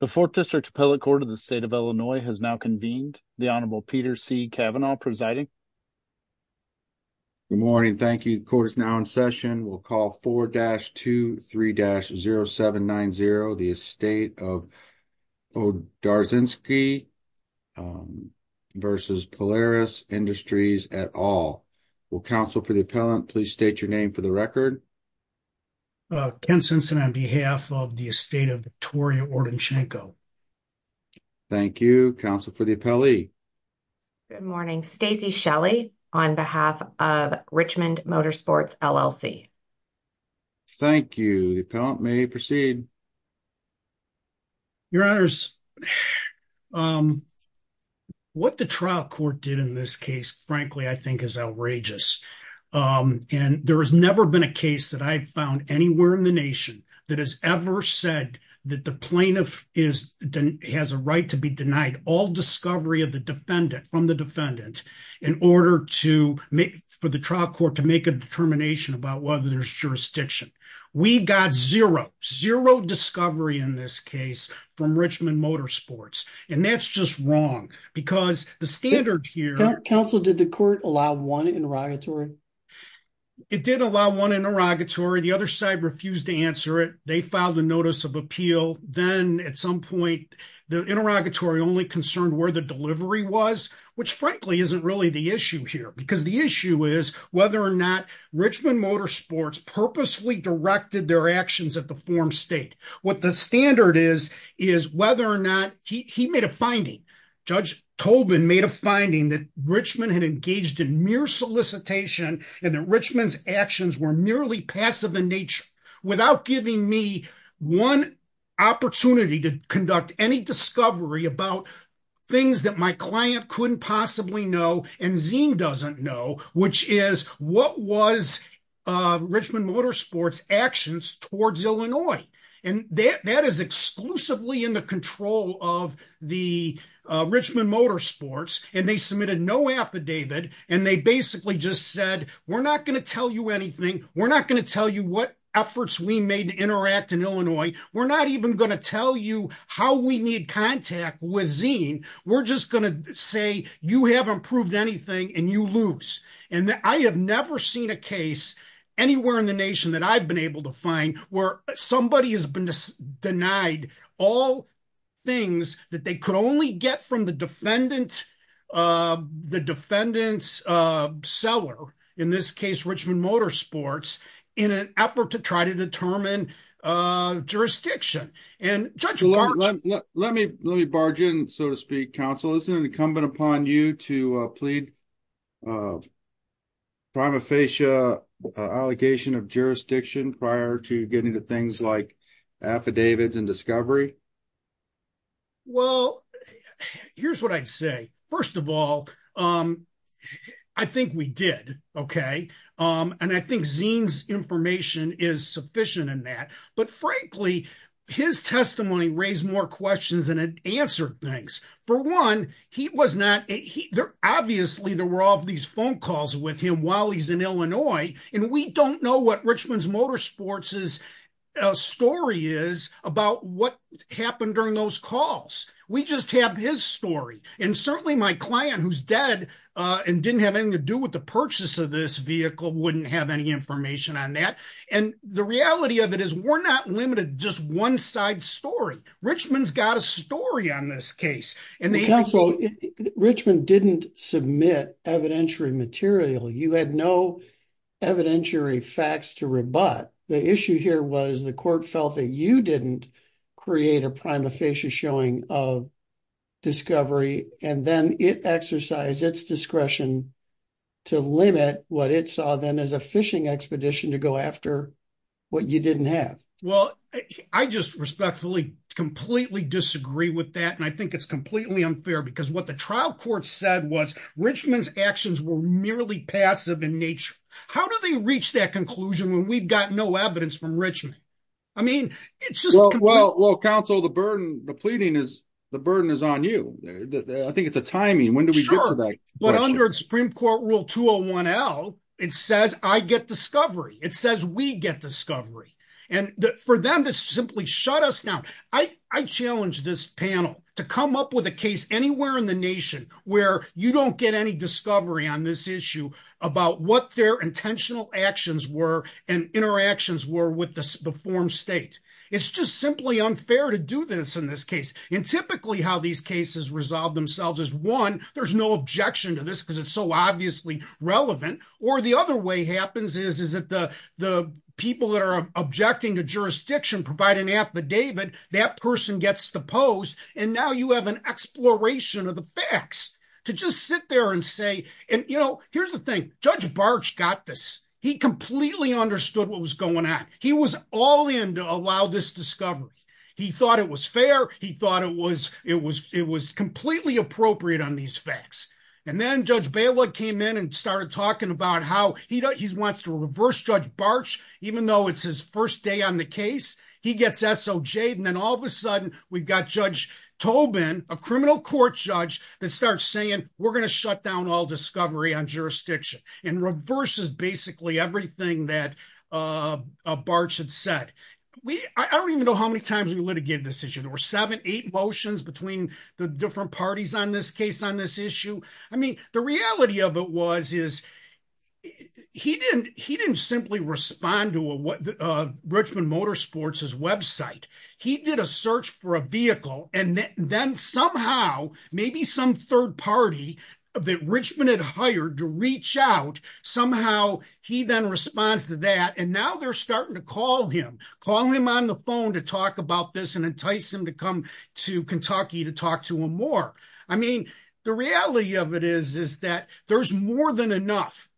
The 4th District Appellate Court of the State of Illinois has now convened. The Honorable Peter C. Kavanaugh presiding. Good morning. Thank you. The court is now in session. We'll call 4-23-0790, the estate of Odarzcenski vs. Polaris Industries et al. Will counsel for the appellant please state your name for the record. Ken Sensen on behalf of the estate of Victoria Odarzcenko. Thank you. Counsel for the appellee. Good morning. Stacey Shelley on behalf of Richmond Motorsports LLC. Thank you. The appellant may proceed. Your honors, what the trial court did in this case, frankly, I think is outrageous. And there has never been a case that I found anywhere in the nation that has ever said that the plaintiff is has a right to be denied all discovery of the defendant from the defendant in order to make for the trial court to make a determination about whether there's jurisdiction. We got zero, zero discovery in this case from Richmond Motorsports, and that's just wrong because the standard here... Counsel, did the court allow one interrogatory? It did allow one interrogatory. The other side refused to answer it. They filed a notice of appeal. Then at some point the interrogatory only concerned where the delivery was, which frankly isn't really the issue here because the issue is whether or not Richmond Motorsports purposely directed their actions at the form state. What the standard is, is whether or not he made a finding. Judge Tobin made a finding that Richmond had engaged in mere solicitation and that Richmond's actions were merely passive in nature without giving me one opportunity to conduct any discovery about things that my client couldn't possibly know and Zeme doesn't know, which is what was Richmond Motorsports actions towards Illinois. That is exclusively in the control of the Richmond Motorsports and they submitted no affidavit and they basically just said, we're not going to tell you anything. We're not going to tell you what efforts we made to interact in Illinois. We're not even going to tell you how we need contact with Zeme. We're just going to say you haven't proved anything and you lose. I have never seen a case anywhere in the nation that I've been able to find where somebody has been denied all things that they could only get from the defendant's seller, in this case Richmond Motorsports, in an effort to try to determine jurisdiction. Let me barge in, so to speak, counsel. Isn't it incumbent upon you to plead prima facie allegation of jurisdiction prior to getting to things like affidavits and discovery? Well, here's what I'd say. First of all, I think we did. Okay. And I think Zeme's information is sufficient in that. But frankly, his testimony raised more questions than it answered things. For one, obviously there were all of these phone calls with him while he's in Illinois and we don't know what Richmond Motorsports' story is about what happened during those calls. We just have his story. And certainly my client who's dead and didn't have anything to do with the purchase of this vehicle wouldn't have any information on that. And the reality of it is we're not limited to just one side story. Richmond's got a story on this case. Counsel, Richmond didn't submit evidentiary material. You had no evidentiary facts to rebut. The issue here was the court felt that you didn't create a prima facie showing of discovery. And then it exercised its discretion to limit what it saw then as a fishing expedition to go after what you didn't have. Well, I just respectfully completely disagree with that. And I think it's completely unfair because what the trial court said was Richmond's actions were merely passive in nature. How do they reach that conclusion when we've got no evidence from Richmond? I mean, it's just... Well, counsel, the burden, the pleading is, the burden is on you. I think it's a timing. When do we get to that? For them to simply shut us down. I challenge this panel to come up with a case anywhere in the nation where you don't get any discovery on this issue about what their intentional actions were and interactions were with the form state. It's just simply unfair to do this in this case. And typically how these cases resolve themselves is one, there's no objection to this because it's so obviously relevant. Or the other way happens is that the people that are objecting to jurisdiction provide an affidavit. That person gets the post. And now you have an exploration of the facts to just sit there and say, and you know, here's the thing, Judge Barch got this. He completely understood what was going on. He was all in to allow this discovery. He thought it was fair. He thought it was, it was, it was completely appropriate on these facts. And then Judge Balogh came in and started talking about how he wants to reverse Judge Barch, even though it's his first day on the case, he gets SOJed. And then all of a sudden, we've got Judge Tobin, a criminal court judge that starts saying, we're going to shut down all discovery on jurisdiction and reverses basically everything that Barch had said. We, I don't even know how many times we litigated this issue. There were seven, eight motions between the different parties on this case on this issue. I mean, the reality of it was, is he didn't, he didn't simply respond to a Richmond Motorsports' website. He did a search for a vehicle and then somehow, maybe some third party that Richmond had hired to reach out. Somehow he then responds to that. And now they're starting to call him, call him on the phone to talk about this and entice him to come to Kentucky to talk to him more. I mean, the reality of it is, is that there's more than enough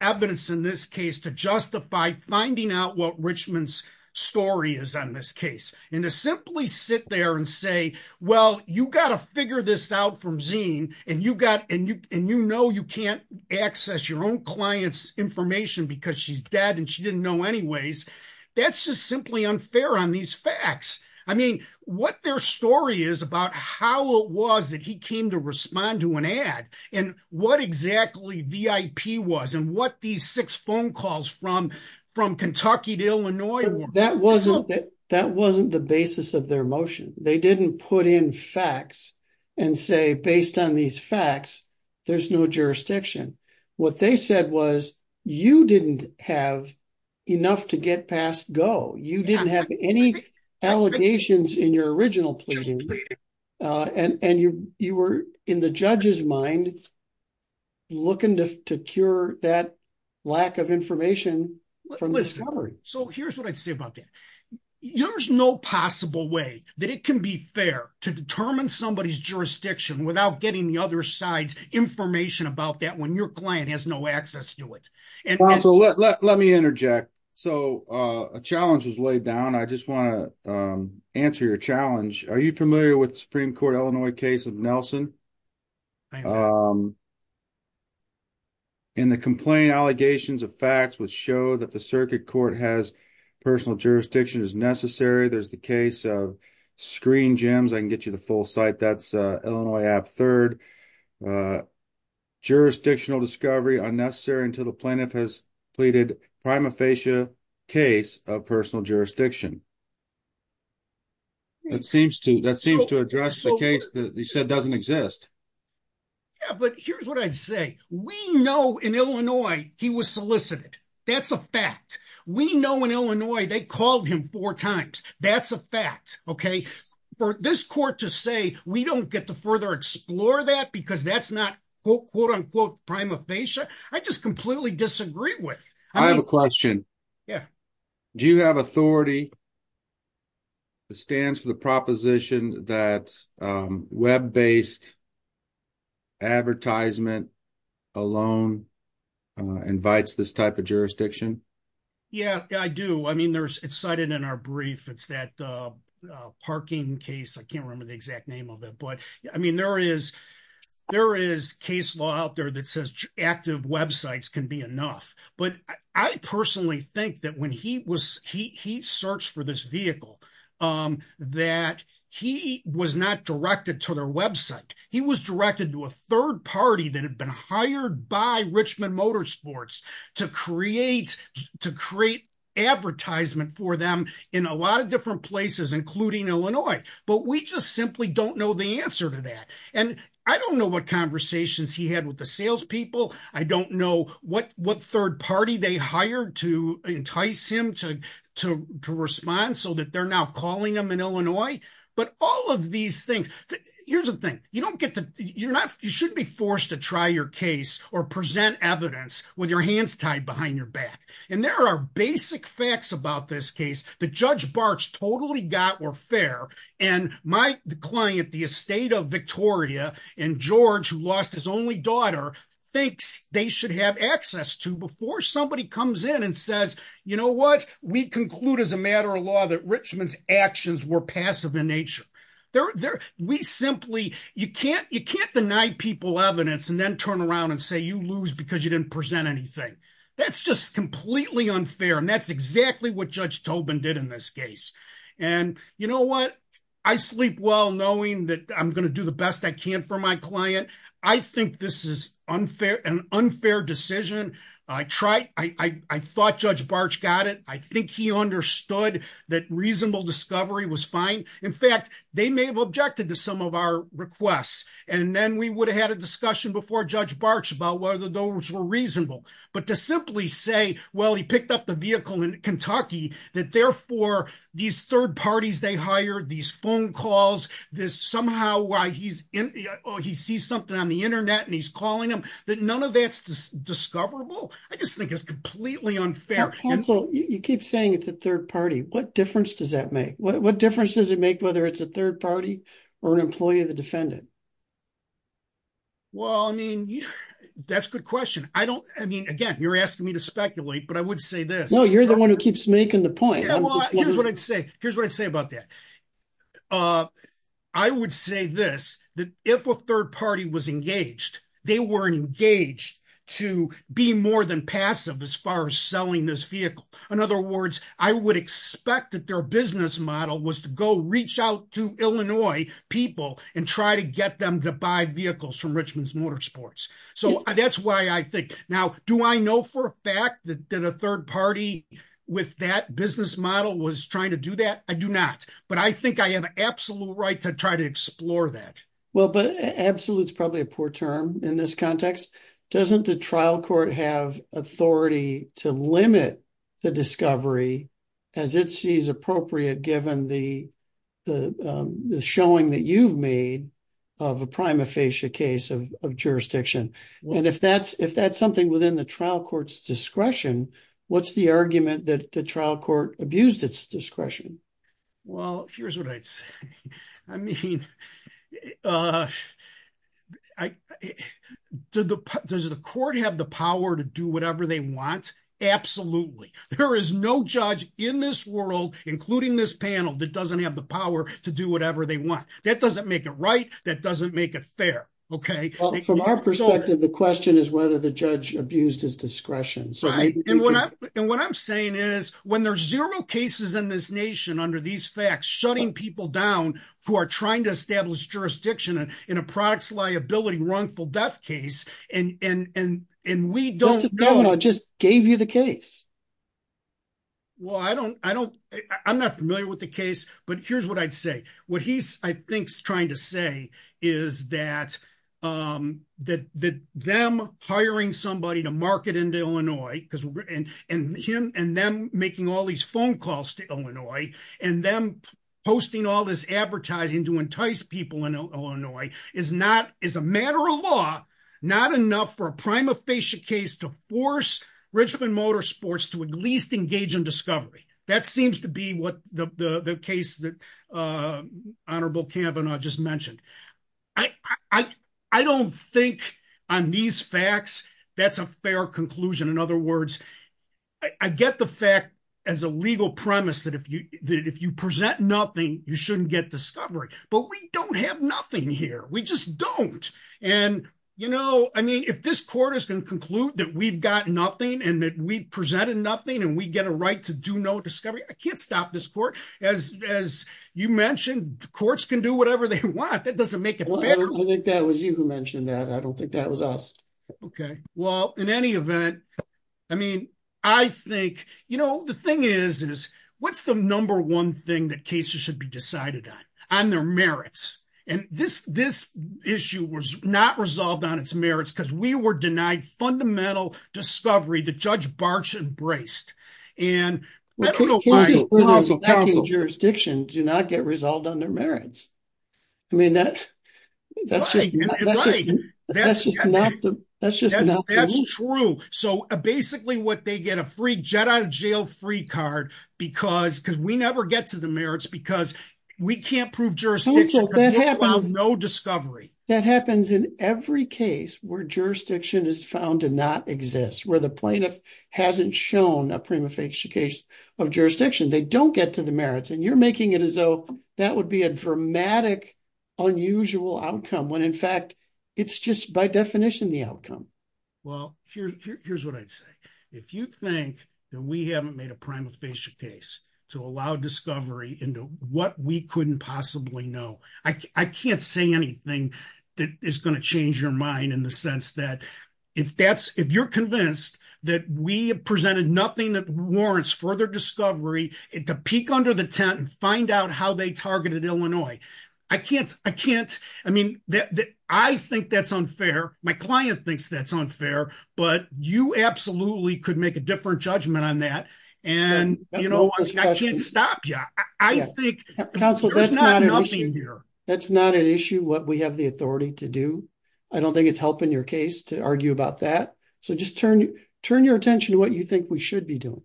evidence in this case to justify finding out what Richmond's story is on this case. And to simply sit there and say, well, you got to figure this out from Zine and you got, and you, and you know, you can't access your own client's information because she's dead and she didn't know anyways. That's just simply unfair on these facts. I mean, what their story is about how it was that he came to respond to an ad and what exactly VIP was and what these six phone calls from, from Kentucky to Illinois were. That wasn't, that wasn't the basis of their motion. They didn't put in facts and say, based on these facts, there's no jurisdiction. What they said was you didn't have enough to get past go. You didn't have any allegations in your original pleading. And, and you, you were in the judge's mind looking to cure that lack of information from the discovery. So here's what I'd say about that. There's no possible way that it can be fair to determine somebody's jurisdiction without getting the other side's information about that. When your client has no access to it. So, let me interject. So a challenge is laid down. I just want to answer your challenge. Are you familiar with Supreme Court, Illinois case of Nelson. In the complaint allegations of facts would show that the circuit court has personal jurisdiction is necessary. There's the case of screen gems. I can get you the full site. That's Illinois app. 3rd. Jurisdictional discovery unnecessary until the plaintiff has pleaded prima facie case of personal jurisdiction. It seems to that seems to address the case that he said doesn't exist. But here's what I say, we know in Illinois, he was solicited. That's a fact. We know in Illinois, they called him 4 times. That's a fact. Okay. For this court to say, we don't get to further explore that because that's not quote unquote prima facie. I just completely disagree with. I have a question. Yeah. Do you have authority stands for the proposition that web based advertisement alone invites this type of jurisdiction. Yeah, I do. I mean, there's excited in our brief. It's that parking case. I can't remember the exact name of it. But, I mean, there is there is case law out there that says active websites can be enough. But I personally think that when he was he searched for this vehicle that he was not directed to their website. He was directed to a third party that had been hired by Richmond Motorsports to create to create advertisement for them in a lot of different places, including Illinois. But we just simply don't know the answer to that. And I don't know what conversations he had with the salespeople. I don't know what what third party they hired to entice him to to to respond so that they're now calling them in Illinois. Right. But all of these things. Here's the thing. You don't get to you're not you shouldn't be forced to try your case or present evidence with your hands tied behind your back. And there are basic facts about this case. The judge Barks totally got were fair. And my client, the estate of Victoria and George, who lost his only daughter, thinks they should have access to before somebody comes in and says, you know what, we conclude as a matter of law that Richmond's actions were passive in nature. We simply you can't you can't deny people evidence and then turn around and say you lose because you didn't present anything. That's just completely unfair. And that's exactly what Judge Tobin did in this case. And you know what, I sleep well knowing that I'm going to do the best I can for my client. I think this is unfair and unfair decision. I try. I thought Judge Barks got it. I think he understood that reasonable discovery was fine. In fact, they may have objected to some of our requests. And then we would have had a discussion before Judge Barks about whether those were reasonable. But to simply say, well, he picked up the vehicle in Kentucky that therefore these third parties they hired these phone calls this somehow why he's in he sees something on the Internet and he's calling him that none of that's discoverable. I just think it's completely unfair. And so you keep saying it's a third party. What difference does that make? What difference does it make whether it's a third party or an employee of the defendant? Well, I mean, that's a good question. I don't I mean, again, you're asking me to speculate, but I would say this. No, you're the one who keeps making the point. Here's what I'd say. Here's what I'd say about that. I would say this, that if a third party was engaged, they were engaged to be more than passive as far as selling this vehicle. In other words, I would expect that their business model was to go reach out to Illinois people and try to get them to buy vehicles from Richmond's Motorsports. So that's why I think now do I know for a fact that a third party with that business model was trying to do that? I do not. But I think I have absolute right to try to explore that. Well, but absolute is probably a poor term in this context. Doesn't the trial court have authority to limit the discovery as it sees appropriate given the showing that you've made of a prima facie case of jurisdiction? And if that's if that's something within the trial court's discretion, what's the argument that the trial court abused its discretion? Well, here's what I'd say. I mean, does the court have the power to do whatever they want? Absolutely. There is no judge in this world, including this panel, that doesn't have the power to do whatever they want. That doesn't make it right. That doesn't make it fair. Okay. From our perspective, the question is whether the judge abused his discretion. And what I'm saying is when there's zero cases in this nation under these facts, shutting people down for trying to establish jurisdiction in a products liability wrongful death case, and we don't know. Governor just gave you the case. Well, I don't I don't I'm not familiar with the case, but here's what I'd say. What he's, I think, trying to say is that that that them hiring somebody to market into Illinois and him and them making all these phone calls to Illinois and them posting all this advertising to entice people in Illinois is not is a matter of law. Not enough for a prima facie case to force Richmond Motorsports to at least engage in discovery. That seems to be what the case that Honorable Kavanaugh just mentioned. I don't think on these facts. That's a fair conclusion. In other words, I get the fact as a legal premise that if you if you present nothing, you shouldn't get discovery, but we don't have nothing here. We just don't. And, you know, I mean, if this court is going to conclude that we've got nothing and that we presented nothing and we get a right to do no discovery, I can't stop this court as as you mentioned, courts can do whatever they want. That doesn't make it. I think that was you who mentioned that. I don't think that was us. Okay, well, in any event, I mean, I think, you know, the thing is, is what's the number one thing that cases should be decided on their merits. And this, this issue was not resolved on its merits because we were denied fundamental discovery. We were denied fundamental discovery. The judge barge embraced and jurisdiction do not get resolved on their merits. I mean, that's, that's true. So, basically what they get a free jet out of jail free card, because because we never get to the merits because we can't prove jurisdiction. No discovery that happens in every case where jurisdiction is found to not exist where the plaintiff hasn't shown a prima facie case of jurisdiction, they don't get to the merits and you're making it as though that would be a dramatic unusual outcome when in fact, it's just by definition, the outcome. Well, here's what I'd say. If you think that we haven't made a prima facie case to allow discovery into what we couldn't possibly know, I can't say anything that is going to change your mind in the sense that if that's if you're convinced that we have presented nothing that warrants further discovery it to peek under the tent and find out how they targeted Illinois. I can't, I can't, I mean, I think that's unfair. My client thinks that's unfair, but you absolutely could make a different judgment on that. And, you know, I can't stop you. I think that's not an issue here. That's not an issue what we have the authority to do. I don't think it's helping your case to argue about that. So just turn, turn your attention to what you think we should be doing.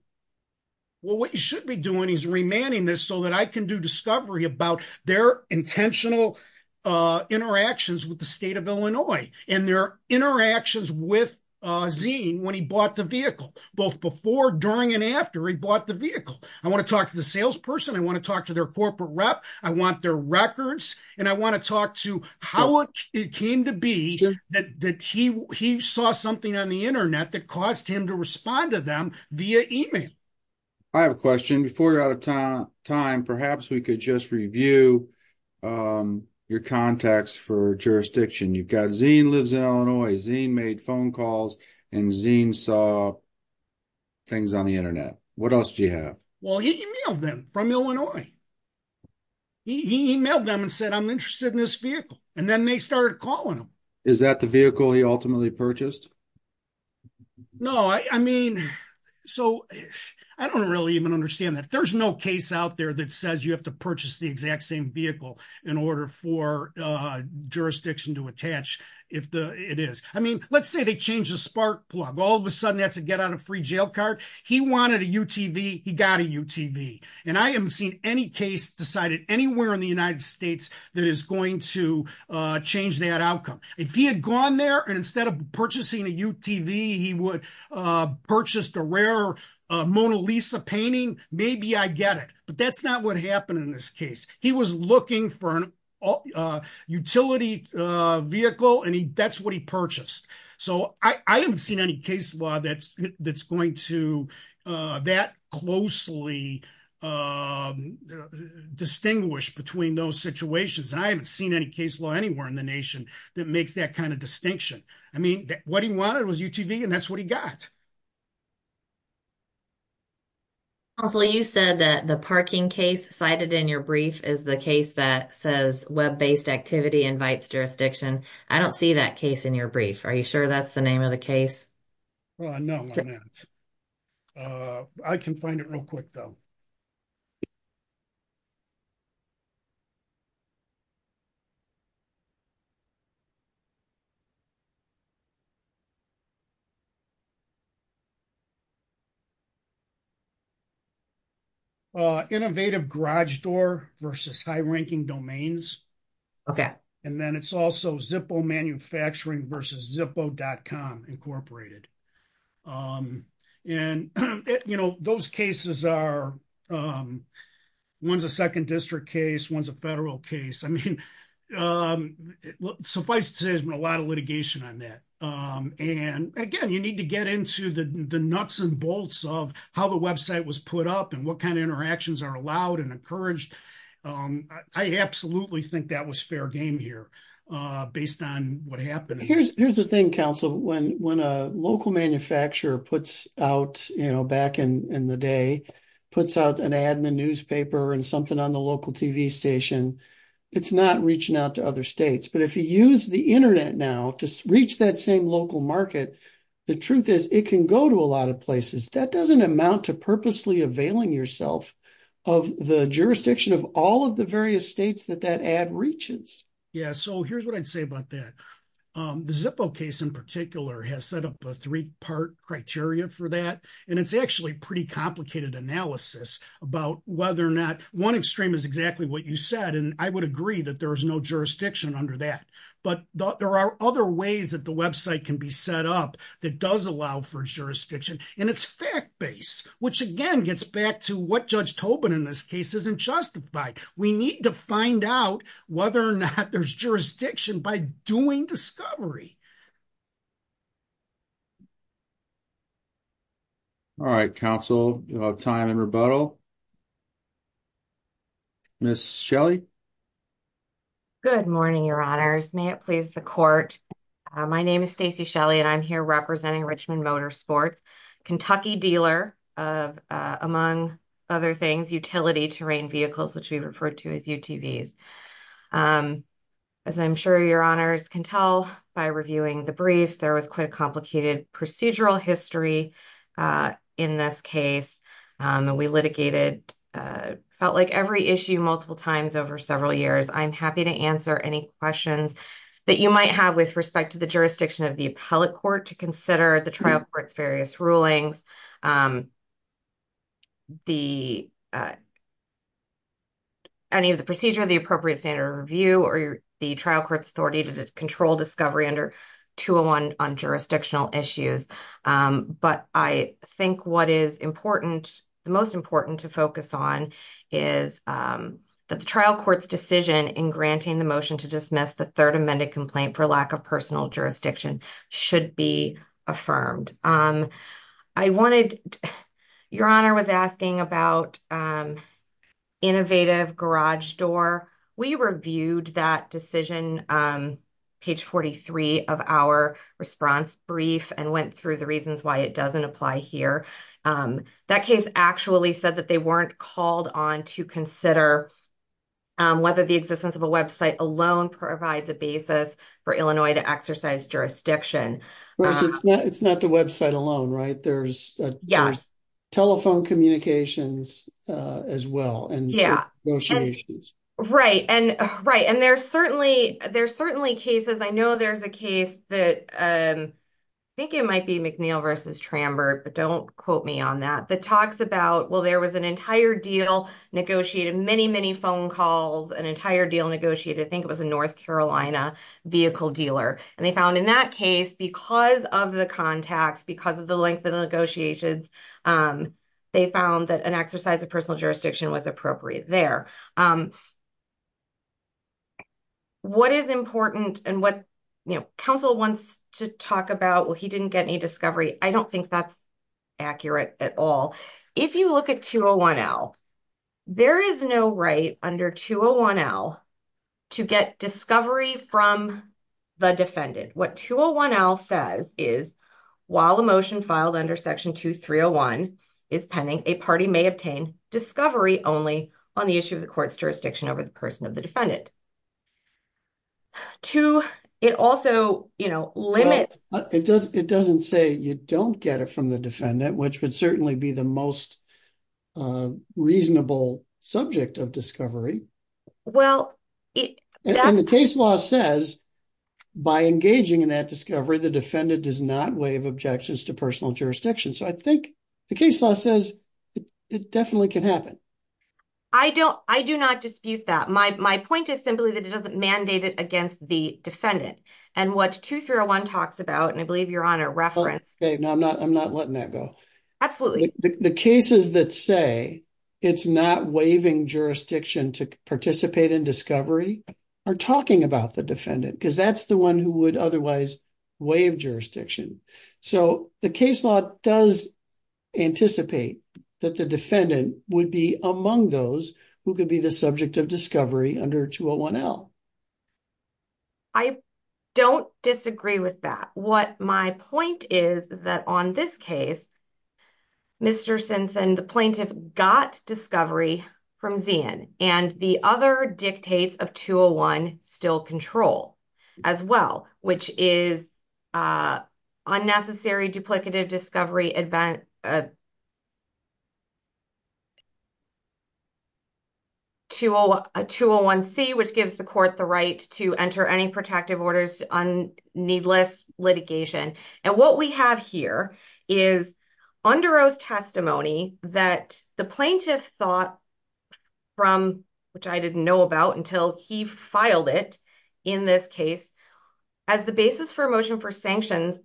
Well, what you should be doing is remanding this so that I can do discovery about their intentional interactions with the state of Illinois and their interactions with Zine when he bought the vehicle, both before, during and after he bought the vehicle. I want to talk to the salesperson. I want to talk to their corporate rep. I want their records. And I want to talk to how it came to be that he saw something on the internet that caused him to respond to them via email. I have a question before you're out of time. Perhaps we could just review your contacts for jurisdiction. You've got Zine lives in Illinois. Zine made phone calls and Zine saw things on the internet. What else do you have? Well, he emailed them from Illinois. He emailed them and said, I'm interested in this vehicle. And then they started calling him. Is that the vehicle he ultimately purchased? No, I mean, so I don't really even understand that. There's no case out there that says you have to purchase the exact same vehicle in order for jurisdiction to attach if it is. I mean, let's say they change the spark plug. All of a sudden, that's a get out of free jail card. He wanted a UTV. He got a UTV. And I haven't seen any case decided anywhere in the United States that is going to change that outcome. If he had gone there and instead of purchasing a UTV, he would purchase the rare Mona Lisa painting, maybe I get it. But that's not what happened in this case. He was looking for an utility vehicle and that's what he purchased. So I haven't seen any case law that's going to that closely distinguish between those situations. I haven't seen any case law anywhere in the nation that makes that kind of distinction. I mean, what he wanted was UTV and that's what he got. Hopefully you said that the parking case cited in your brief is the case that says web based activity invites jurisdiction. I don't see that case in your brief. Are you sure that's the name of the case? No, I can find it real quick though. Innovative garage door versus high ranking domains. Okay, and then it's also Zippo manufacturing versus Zippo.com, Incorporated. And those cases are, one's a second district case, one's a federal case. I mean, suffice to say there's been a lot of litigation on that. And again, you need to get into the nuts and bolts of how the website was put up and what kind of interactions are allowed and encouraged. I absolutely think that was fair game here based on what happened. Here's the thing, counsel, when a local manufacturer puts out, back in the day, puts out an ad in the newspaper and something on the local TV station, it's not reaching out to other states. But if you use the internet now to reach that same local market, the truth is it can go to a lot of places. That doesn't amount to purposely availing yourself of the jurisdiction of all of the various states that that ad reaches. Yeah, so here's what I'd say about that. The Zippo case in particular has set up a three-part criteria for that. And it's actually pretty complicated analysis about whether or not one extreme is exactly what you said. And I would agree that there is no jurisdiction under that. But there are other ways that the website can be set up that does allow for jurisdiction. And it's fact-based, which again gets back to what Judge Tobin in this case isn't justified. We need to find out whether or not there's jurisdiction by doing discovery. All right, counsel, time and rebuttal. Ms. Shelley. Good morning, Your Honors. May it please the court. My name is Stacey Shelley and I'm here representing Richmond Motorsports, Kentucky dealer of, among other things, utility terrain vehicles, which we refer to as UTVs. As I'm sure Your Honors can tell by reviewing the briefs, there was quite a complicated procedural history in this case. We litigated, felt like every issue multiple times over several years. I'm happy to answer any questions that you might have with respect to the jurisdiction of the appellate court to consider the trial court's various rulings. Any of the procedure, the appropriate standard of review, or the trial court's authority to control discovery under 201 on jurisdictional issues. But I think what is important, the most important to focus on is that the trial court's decision in granting the motion to dismiss the third amended complaint for lack of personal jurisdiction should be affirmed. Your Honor was asking about innovative garage door. We reviewed that decision, page 43 of our response brief and went through the reasons why it doesn't apply here. That case actually said that they weren't called on to consider whether the existence of a website alone provides a basis for Illinois to exercise jurisdiction. It's not the website alone, right? There's telephone communications as well. Right, and there's certainly cases, I know there's a case that, I think it might be McNeil v. Trambert, but don't quote me on that, that talks about, well, there was an entire deal negotiated, many, many phone calls, an entire deal negotiated. I think it was a North Carolina vehicle dealer, and they found in that case, because of the contacts, because of the length of the negotiations, they found that an exercise of personal jurisdiction was appropriate there. What is important and what counsel wants to talk about, well, he didn't get any discovery, I don't think that's accurate at all. If you look at 201L, there is no right under 201L to get discovery from the defendant. What 201L says is, while a motion filed under Section 2301 is pending, a party may obtain discovery only on the issue of the court's jurisdiction over the person of the defendant. Well, it doesn't say you don't get it from the defendant, which would certainly be the most reasonable subject of discovery. And the case law says, by engaging in that discovery, the defendant does not waive objections to personal jurisdiction. So I think the case law says it definitely can happen. I do not dispute that. My point is simply that it doesn't mandate it against the defendant. And what 2301 talks about, and I believe you're on a reference. I'm not letting that go. The cases that say it's not waiving jurisdiction to participate in discovery are talking about the defendant, because that's the one who would otherwise waive jurisdiction. So the case law does anticipate that the defendant would be among those who could be the subject of discovery under 201L. I don't disagree with that. What my point is, is that on this case, Mr. Simpson, the plaintiff got discovery from Zeehan, and the other dictates of 201 still control as well, which is unnecessary duplicative discovery. 201C, which gives the court the right to enter any protective orders on needless litigation. And what we have here is under oath testimony that the plaintiff thought from, which I didn't know about until he filed it in this case, as the basis for a motion for sanctions against the co-defendant and use it as the basis for a motion for sanctions against the defendant. And that was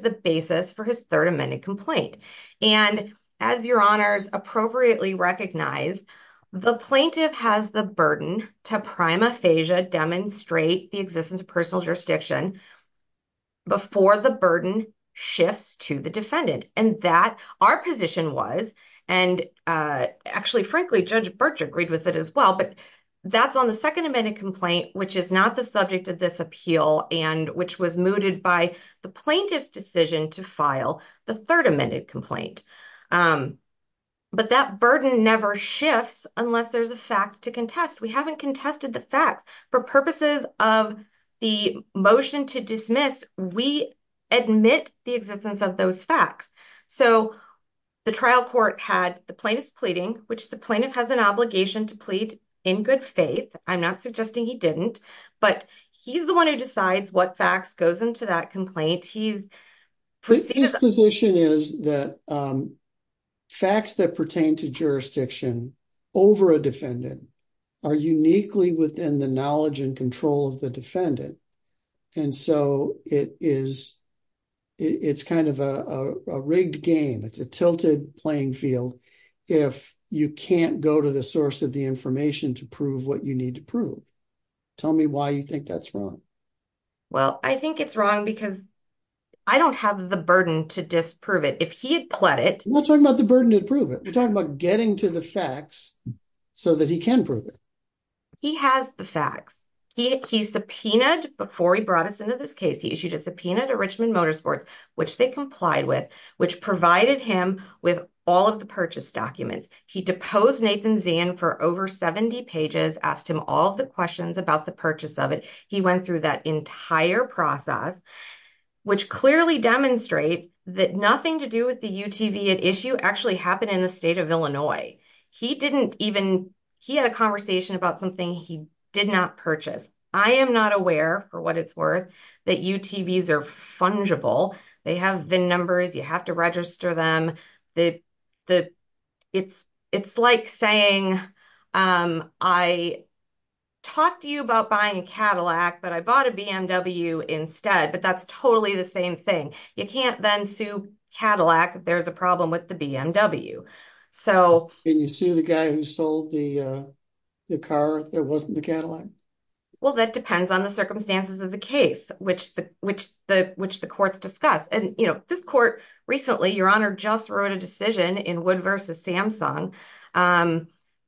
the basis for his third amended complaint. And as your honors appropriately recognize, the plaintiff has the burden to prima facie demonstrate the existence of personal jurisdiction before the burden shifts to the defendant. And that our position was, and actually, frankly, Judge Birch agreed with it as well, but that's on the second amended complaint, which is not the subject of this appeal and which was mooted by the plaintiff's decision to file the third amended complaint. But that burden never shifts unless there's a fact to contest. We haven't contested the facts. For purposes of the motion to dismiss, we admit the existence of those facts. So the trial court had the plaintiff's pleading, which the plaintiff has an obligation to plead in good faith. I'm not suggesting he didn't, but he's the one who decides what facts goes into that complaint. His position is that facts that pertain to jurisdiction over a defendant are uniquely within the knowledge and control of the defendant. And so it's kind of a rigged game. It's a tilted playing field if you can't go to the source of the information to prove what you need to prove. Tell me why you think that's wrong. Well, I think it's wrong because I don't have the burden to disprove it. If he had pled it. We're talking about the burden to prove it. We're talking about getting to the facts so that he can prove it. He has the facts. He subpoenaed, before he brought us into this case, he issued a subpoena to Richmond Motorsports, which they complied with, which provided him with all of the purchase documents. He deposed Nathan Zahn for over 70 pages, asked him all the questions about the purchase of it. He went through that entire process, which clearly demonstrates that nothing to do with the UTV at issue actually happened in the state of Illinois. He didn't even, he had a conversation about something he did not purchase. I am not aware, for what it's worth, that UTVs are fungible. They have the numbers. You have to register them. It's like saying, I talked to you about buying a Cadillac, but I bought a BMW instead. But that's totally the same thing. You can't then sue Cadillac if there's a problem with the BMW. And you sue the guy who sold the car that wasn't the Cadillac? Well, that depends on the circumstances of the case, which the courts discuss. And, you know, this court recently, Your Honor, just wrote a decision in Wood v. Samsung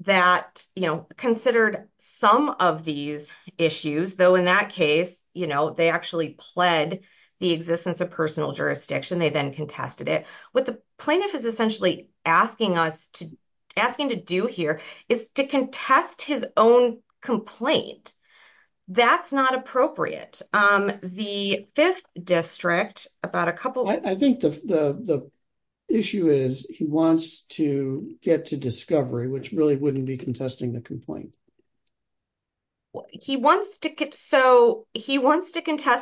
that, you know, considered some of these issues, though in that case, you know, they actually pled the existence of personal jurisdiction. They then contested it. What the plaintiff is essentially asking us to asking to do here is to contest his own complaint. That's not appropriate. The 5th District, about a couple of- I think the issue is he wants to get to discovery, which really wouldn't be contesting the complaint. He wants to contest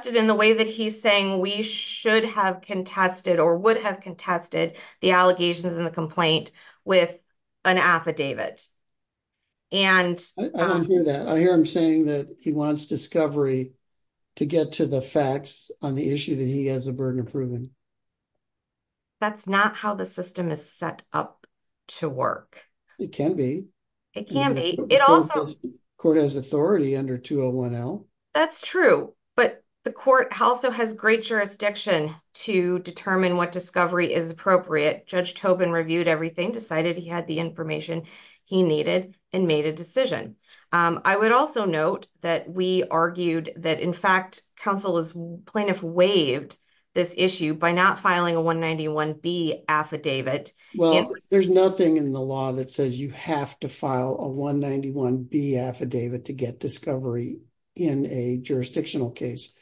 it in the way that he's saying we should have contested or would have contested the allegations in the complaint with an affidavit. I don't hear that. I hear him saying that he wants discovery to get to the facts on the issue that he has a burden of proving. That's not how the system is set up to work. It can be. It can be. It also- The court has authority under 201L. That's true, but the court also has great jurisdiction to determine what discovery is appropriate. Judge Tobin reviewed everything, decided he had the information he needed, and made a decision. I would also note that we argued that, in fact, counsel has plaintiff waived this issue by not filing a 191B affidavit. Well, there's nothing in the law that says you have to file a 191B affidavit to get discovery in a jurisdictional case.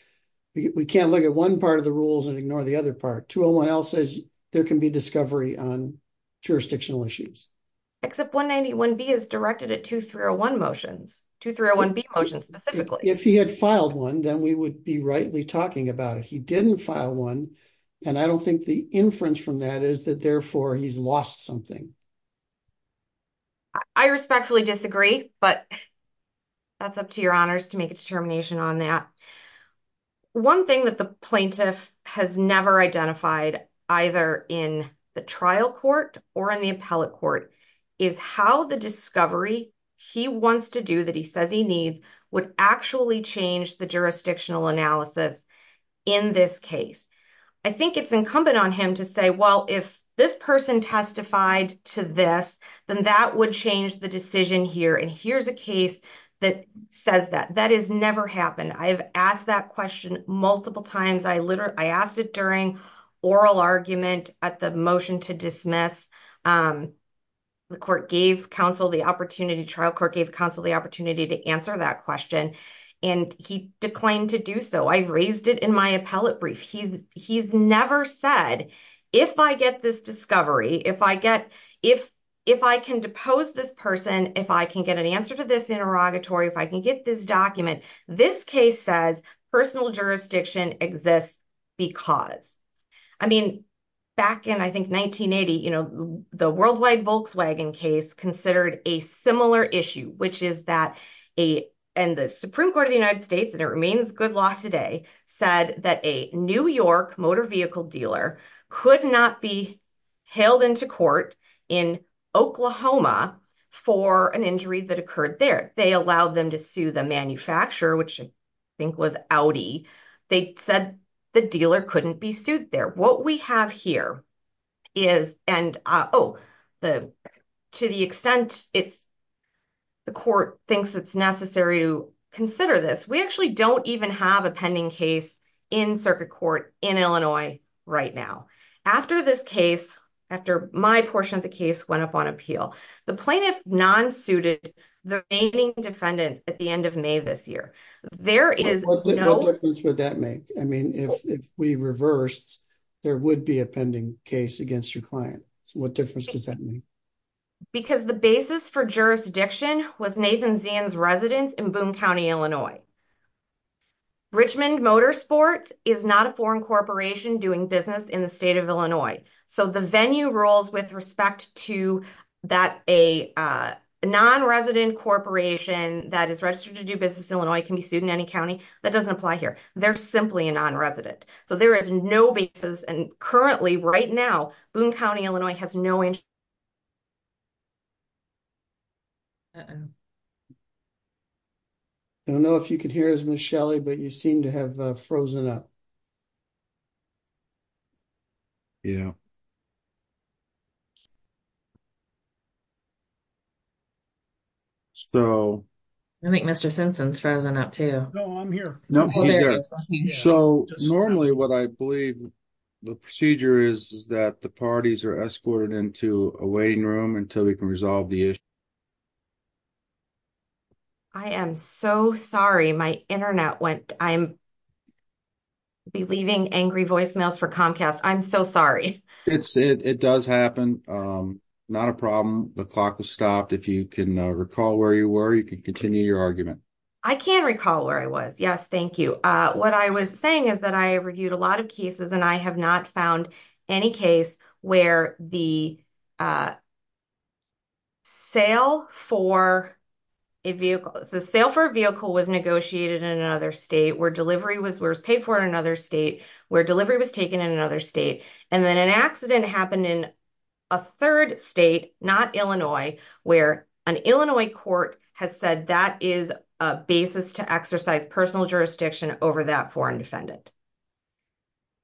We can't look at one part of the rules and ignore the other part. 201L says there can be discovery on jurisdictional issues. Except 191B is directed at 2301 motions, 2301B motions specifically. If he had filed one, then we would be rightly talking about it. He didn't file one, and I don't think the inference from that is that, therefore, he's lost something. I respectfully disagree, but that's up to your honors to make a determination on that. One thing that the plaintiff has never identified, either in the trial court or in the appellate court, is how the discovery he wants to do, that he says he needs, would actually change the jurisdictional analysis in this case. I think it's incumbent on him to say, well, if this person testified to this, then that would change the decision here, and here's a case that says that. That has never happened. I have asked that question multiple times. I asked it during oral argument at the motion to dismiss. The trial court gave counsel the opportunity to answer that question, and he declined to do so. I raised it in my appellate brief. He's never said, if I get this discovery, if I can depose this person, if I can get an answer to this interrogatory, if I can get this document, this case says personal jurisdiction exists because. I mean, back in, I think, 1980, the worldwide Volkswagen case considered a similar issue, which is that the Supreme Court of the United States, and it remains good law today, said that a New York motor vehicle dealer could not be hailed into court in Oklahoma for an injury that occurred there. They allowed them to sue the manufacturer, which I think was Audi. They said the dealer couldn't be sued there. What we have here is, and to the extent the court thinks it's necessary to consider this, we actually don't even have a pending case in circuit court in Illinois right now. After this case, after my portion of the case went up on appeal, the plaintiff non-suited the remaining defendants at the end of May this year. What difference would that make? I mean, if we reversed, there would be a pending case against your client. What difference does that make? Because the basis for jurisdiction was Nathan Zan's residence in Boone County, Illinois. Richmond Motorsports is not a foreign corporation doing business in the state of Illinois. So the venue rules with respect to that a non-resident corporation that is registered to do business in Illinois can be sued in any county, that doesn't apply here. They're simply a non-resident. So there is no basis. And currently, right now, Boone County, Illinois has no interest. I don't know if you could hear us, Ms. Shelley, but you seem to have frozen up. Yeah. So. I think Mr. Simpson's frozen up too. No, I'm here. So normally what I believe the procedure is that the parties are escorted into a waiting room until we can resolve the issue. I am so sorry. My Internet went. I'm leaving angry voicemails for Comcast. I'm so sorry. It does happen. Not a problem. The clock has stopped. If you can recall where you were, you can continue your argument. I can recall where I was. Yes, thank you. What I was saying is that I reviewed a lot of cases, and I have not found any case where the sale for a vehicle was negotiated in another state, where delivery was paid for in another state, where delivery was taken in another state, and then an accident happened in a third state, not Illinois, where an Illinois court has said that is a basis to exercise personal jurisdiction over that foreign defendant.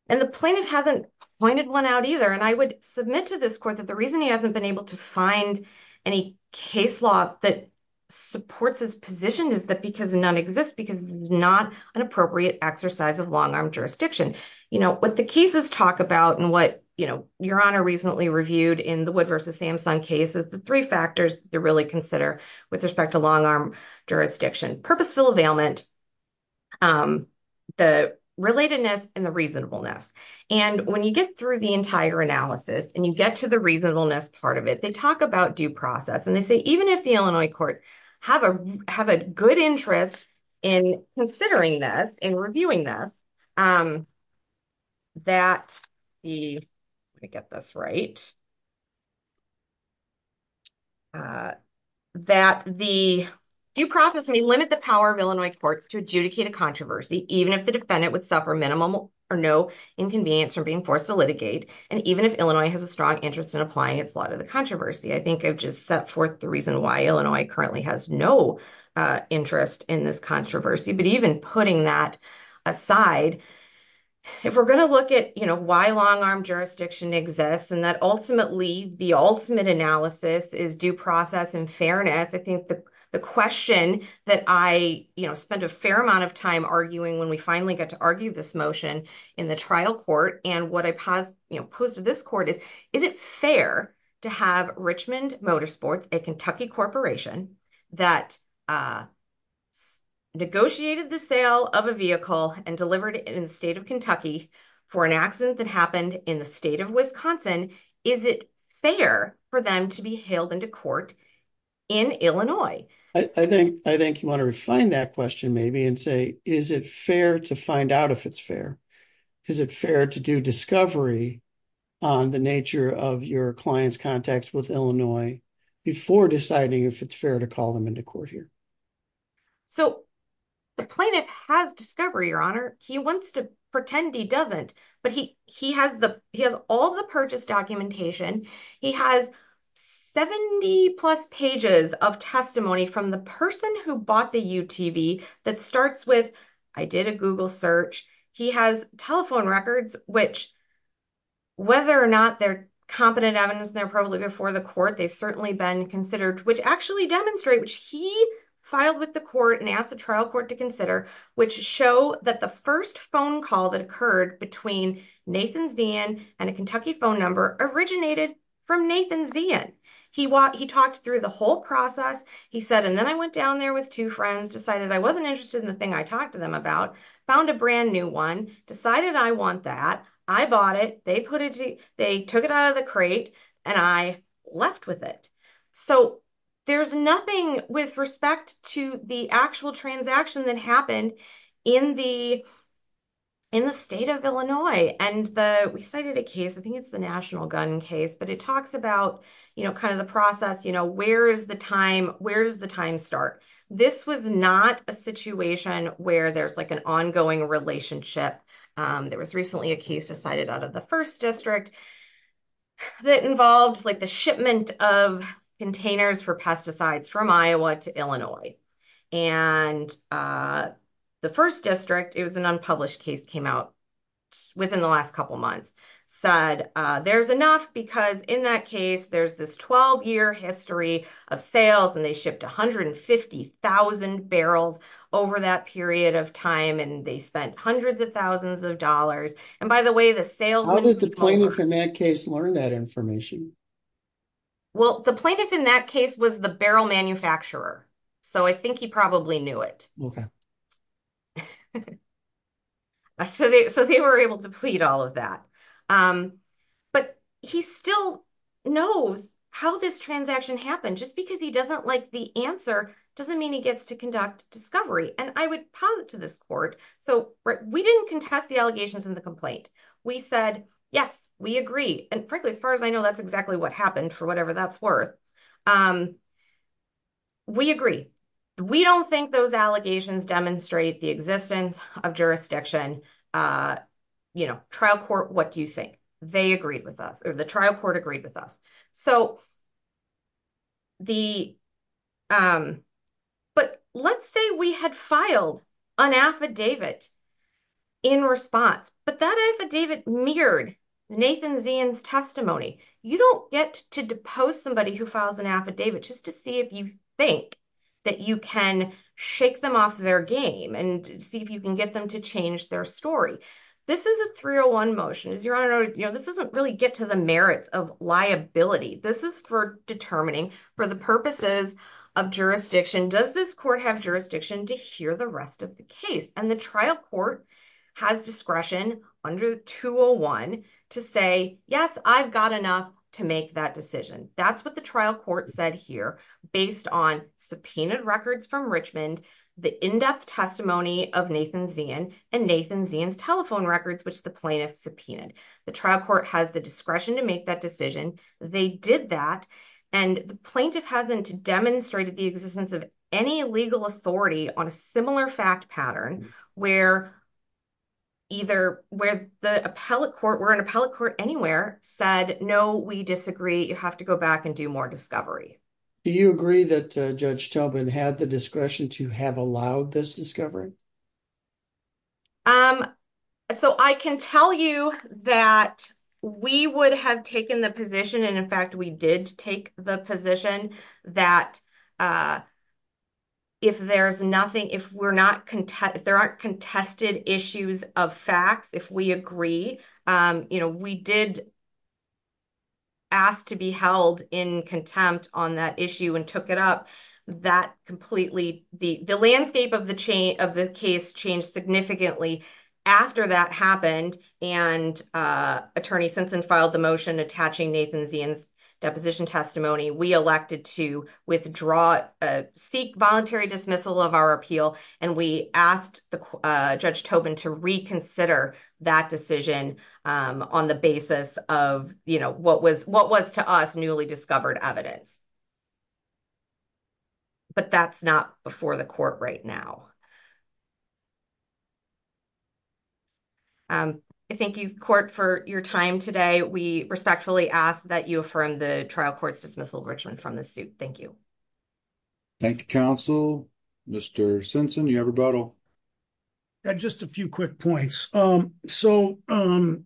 And the plaintiff hasn't pointed one out either. And I would submit to this court that the reason he hasn't been able to find any case law that supports his position is that because none exists, because it's not an appropriate exercise of long-arm jurisdiction. You know, what the cases talk about and what, you know, Your Honor recently reviewed in the Wood v. Samsung case is the three factors to really consider with respect to long-arm jurisdiction, purposeful availment, the relatedness, and the reasonableness. And when you get through the entire analysis and you get to the reasonableness part of it, they talk about due process. And they say even if the Illinois court have a have a good interest in considering this and reviewing this, that the get this right. That the due process may limit the power of Illinois courts to adjudicate a controversy, even if the defendant would suffer minimum or no inconvenience from being forced to litigate. And even if Illinois has a strong interest in applying its law to the controversy, I think I've just set forth the reason why Illinois currently has no interest in this controversy. But even putting that aside, if we're going to look at, you know, why long-arm jurisdiction exists, and that ultimately the ultimate analysis is due process and fairness. I think the question that I, you know, spent a fair amount of time arguing when we finally got to argue this motion in the trial court. And what I posed to this court is, is it fair to have Richmond Motorsports, a Kentucky corporation, that negotiated the sale of a vehicle and delivered it in the state of Kentucky for an accident that happened in the state of Wisconsin? Is it fair for them to be hailed into court in Illinois? I think I think you want to refine that question maybe and say, is it fair to find out if it's fair? Is it fair to do discovery on the nature of your client's contacts with Illinois before deciding if it's fair to call them into court here? So the plaintiff has discovery, Your Honor. He wants to pretend he doesn't. But he he has the he has all the purchase documentation. He has 70 plus pages of testimony from the person who bought the UTV that starts with, I did a Google search. He has telephone records, which whether or not they're competent evidence, they're probably before the court. They've certainly been considered, which actually demonstrate which he filed with the court and asked the trial court to consider, which show that the first phone call that occurred between Nathan Zeehan and a Kentucky phone number originated from Nathan Zeehan. He he talked through the whole process, he said, and then I went down there with two friends, decided I wasn't interested in the thing I talked to them about, found a brand new one, decided I want that. I bought it. They put it. They took it out of the crate and I left with it. So there's nothing with respect to the actual transaction that happened in the. In the state of Illinois and the we cited a case, I think it's the national gun case, but it talks about, you know, kind of the process. You know, where is the time? Where's the time start? This was not a situation where there's like an ongoing relationship. There was recently a case decided out of the first district that involved like the shipment of containers for pesticides from Iowa to Illinois. And the first district, it was an unpublished case, came out within the last couple of months, said there's enough because in that case, there's this 12 year history of sales and they shipped one hundred and fifty thousand barrels over that period of time. And they spent hundreds of thousands of dollars. And by the way, the sales. How did the plaintiff in that case learn that information? Well, the plaintiff in that case was the barrel manufacturer, so I think he probably knew it. So they were able to plead all of that, but he still knows how this transaction happened. Just because he doesn't like the answer doesn't mean he gets to conduct discovery. And I would posit to this court. So we didn't contest the allegations in the complaint. We said, yes, we agree. And frankly, as far as I know, that's exactly what happened for whatever that's worth. We agree. We don't think those allegations demonstrate the existence of jurisdiction. You know, trial court, what do you think? They agreed with us or the trial court agreed with us. So. But let's say we had filed an affidavit in response, but that affidavit mirrored Nathan Zeehan's testimony. You don't get to depose somebody who files an affidavit just to see if you think that you can shake them off their game and see if you can get them to change their story. This is a 301 motion. This doesn't really get to the merits of liability. This is for determining for the purposes of jurisdiction. Does this court have jurisdiction to hear the rest of the case? And the trial court has discretion under 201 to say, yes, I've got enough to make that decision. That's what the trial court said here based on subpoenaed records from Richmond, the in-depth testimony of Nathan Zeehan and Nathan Zeehan's telephone records, which the plaintiff subpoenaed. The trial court has the discretion to make that decision. They did that and the plaintiff hasn't demonstrated the existence of any legal authority on a similar fact pattern where. Either where the appellate court were an appellate court anywhere said, no, we disagree. You have to go back and do more discovery. Do you agree that Judge Tubman had the discretion to have allowed this discovery? So I can tell you that we would have taken the position. And in fact, we did take the position that. If there's nothing, if we're not content, there are contested issues of facts, if we agree, you know, we did. Asked to be held in contempt on that issue and took it up that completely the landscape of the chain of the case changed significantly after that happened. And Attorney Simpson filed the motion attaching Nathan Zeehan's deposition testimony. We elected to withdraw, seek voluntary dismissal of our appeal. And we asked Judge Tubman to reconsider that decision on the basis of, you know, what was what was to us newly discovered evidence. But that's not before the court right now. Thank you court for your time today. We respectfully ask that you affirm the trial court's dismissal of Richmond from the suit. Thank you. Thank you, counsel. Mr. Simpson, you have a bottle. Just a few quick points. So, 1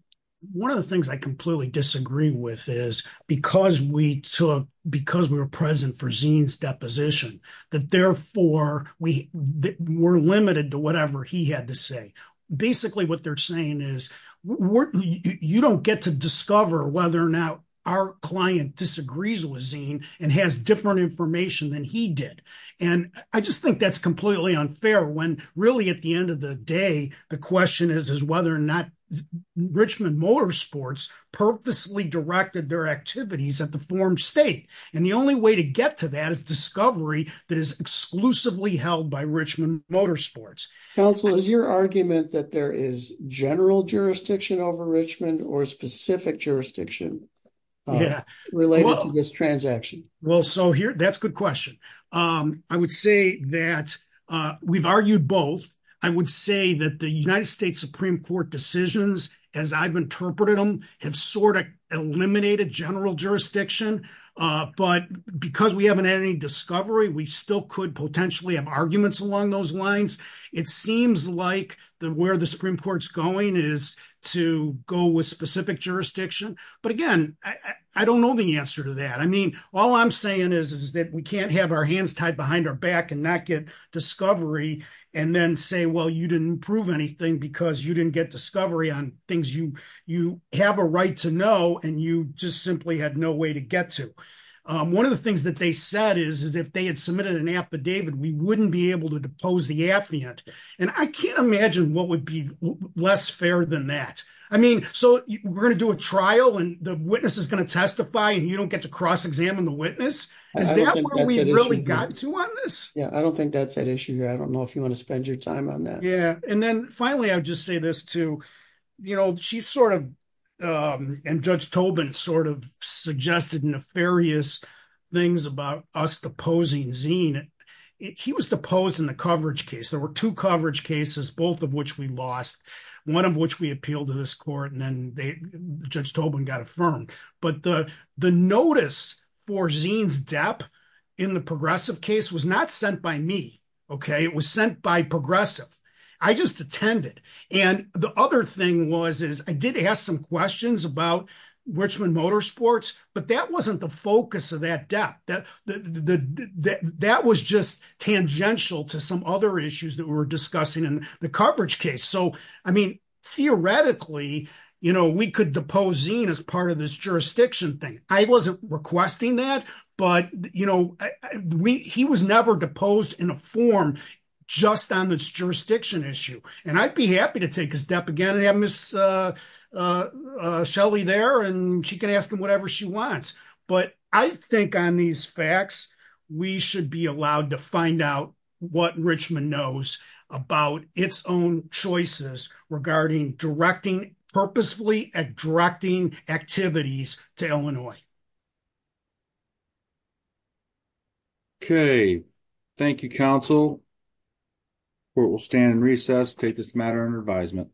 of the things I completely disagree with is because we took because we were present for zines deposition that therefore we were limited to whatever he had to say. Basically, what they're saying is you don't get to discover whether or not our client disagrees with zine and has different information than he did. And I just think that's completely unfair when really, at the end of the day, the question is, is whether or not Richmond Motorsports purposely directed their activities at the form state. And the only way to get to that is discovery that is exclusively held by Richmond Motorsports. Counsel is your argument that there is general jurisdiction over Richmond or specific jurisdiction. Yeah, related to this transaction. Well, so here that's good question. I would say that we've argued both. I would say that the United States Supreme Court decisions, as I've interpreted them have sort of eliminated general jurisdiction, but because we haven't had any discovery, we still could potentially have arguments along those lines. It seems like the where the Supreme Court's going is to go with specific jurisdiction. But again, I don't know the answer to that. I mean, all I'm saying is, is that we can't have our hands tied behind our back and not get discovery and then say, well, you didn't prove anything because you didn't get discovery on things you have a right to know. And you just simply had no way to get to. One of the things that they said is, is if they had submitted an affidavit, we wouldn't be able to depose the affiant. And I can't imagine what would be less fair than that. I mean, so we're going to do a trial and the witness is going to testify and you don't get to cross examine the witness. Is that what we really got to on this? Yeah, I don't think that's an issue here. I don't know if you want to spend your time on that. Yeah. And then finally, I'll just say this too. You know, she's sort of and Judge Tobin sort of suggested nefarious things about us deposing Zine. He was deposed in the coverage case. There were two coverage cases, both of which we lost, one of which we appealed to this court. And then Judge Tobin got affirmed. But the notice for Zine's death in the progressive case was not sent by me. OK, it was sent by progressive. I just attended. And the other thing was, is I did ask some questions about Richmond Motorsports, but that wasn't the focus of that death. That was just tangential to some other issues that we were discussing in the coverage case. So, I mean, theoretically, you know, we could depose Zine as part of this jurisdiction thing. I wasn't requesting that, but, you know, he was never deposed in a form just on this jurisdiction issue. And I'd be happy to take his step again and have Miss Shelley there and she can ask him whatever she wants. But I think on these facts, we should be allowed to find out what Richmond knows about its own choices regarding directing purposefully and directing activities to Illinois. OK, thank you, counsel. Court will stand in recess, take this matter under advisement.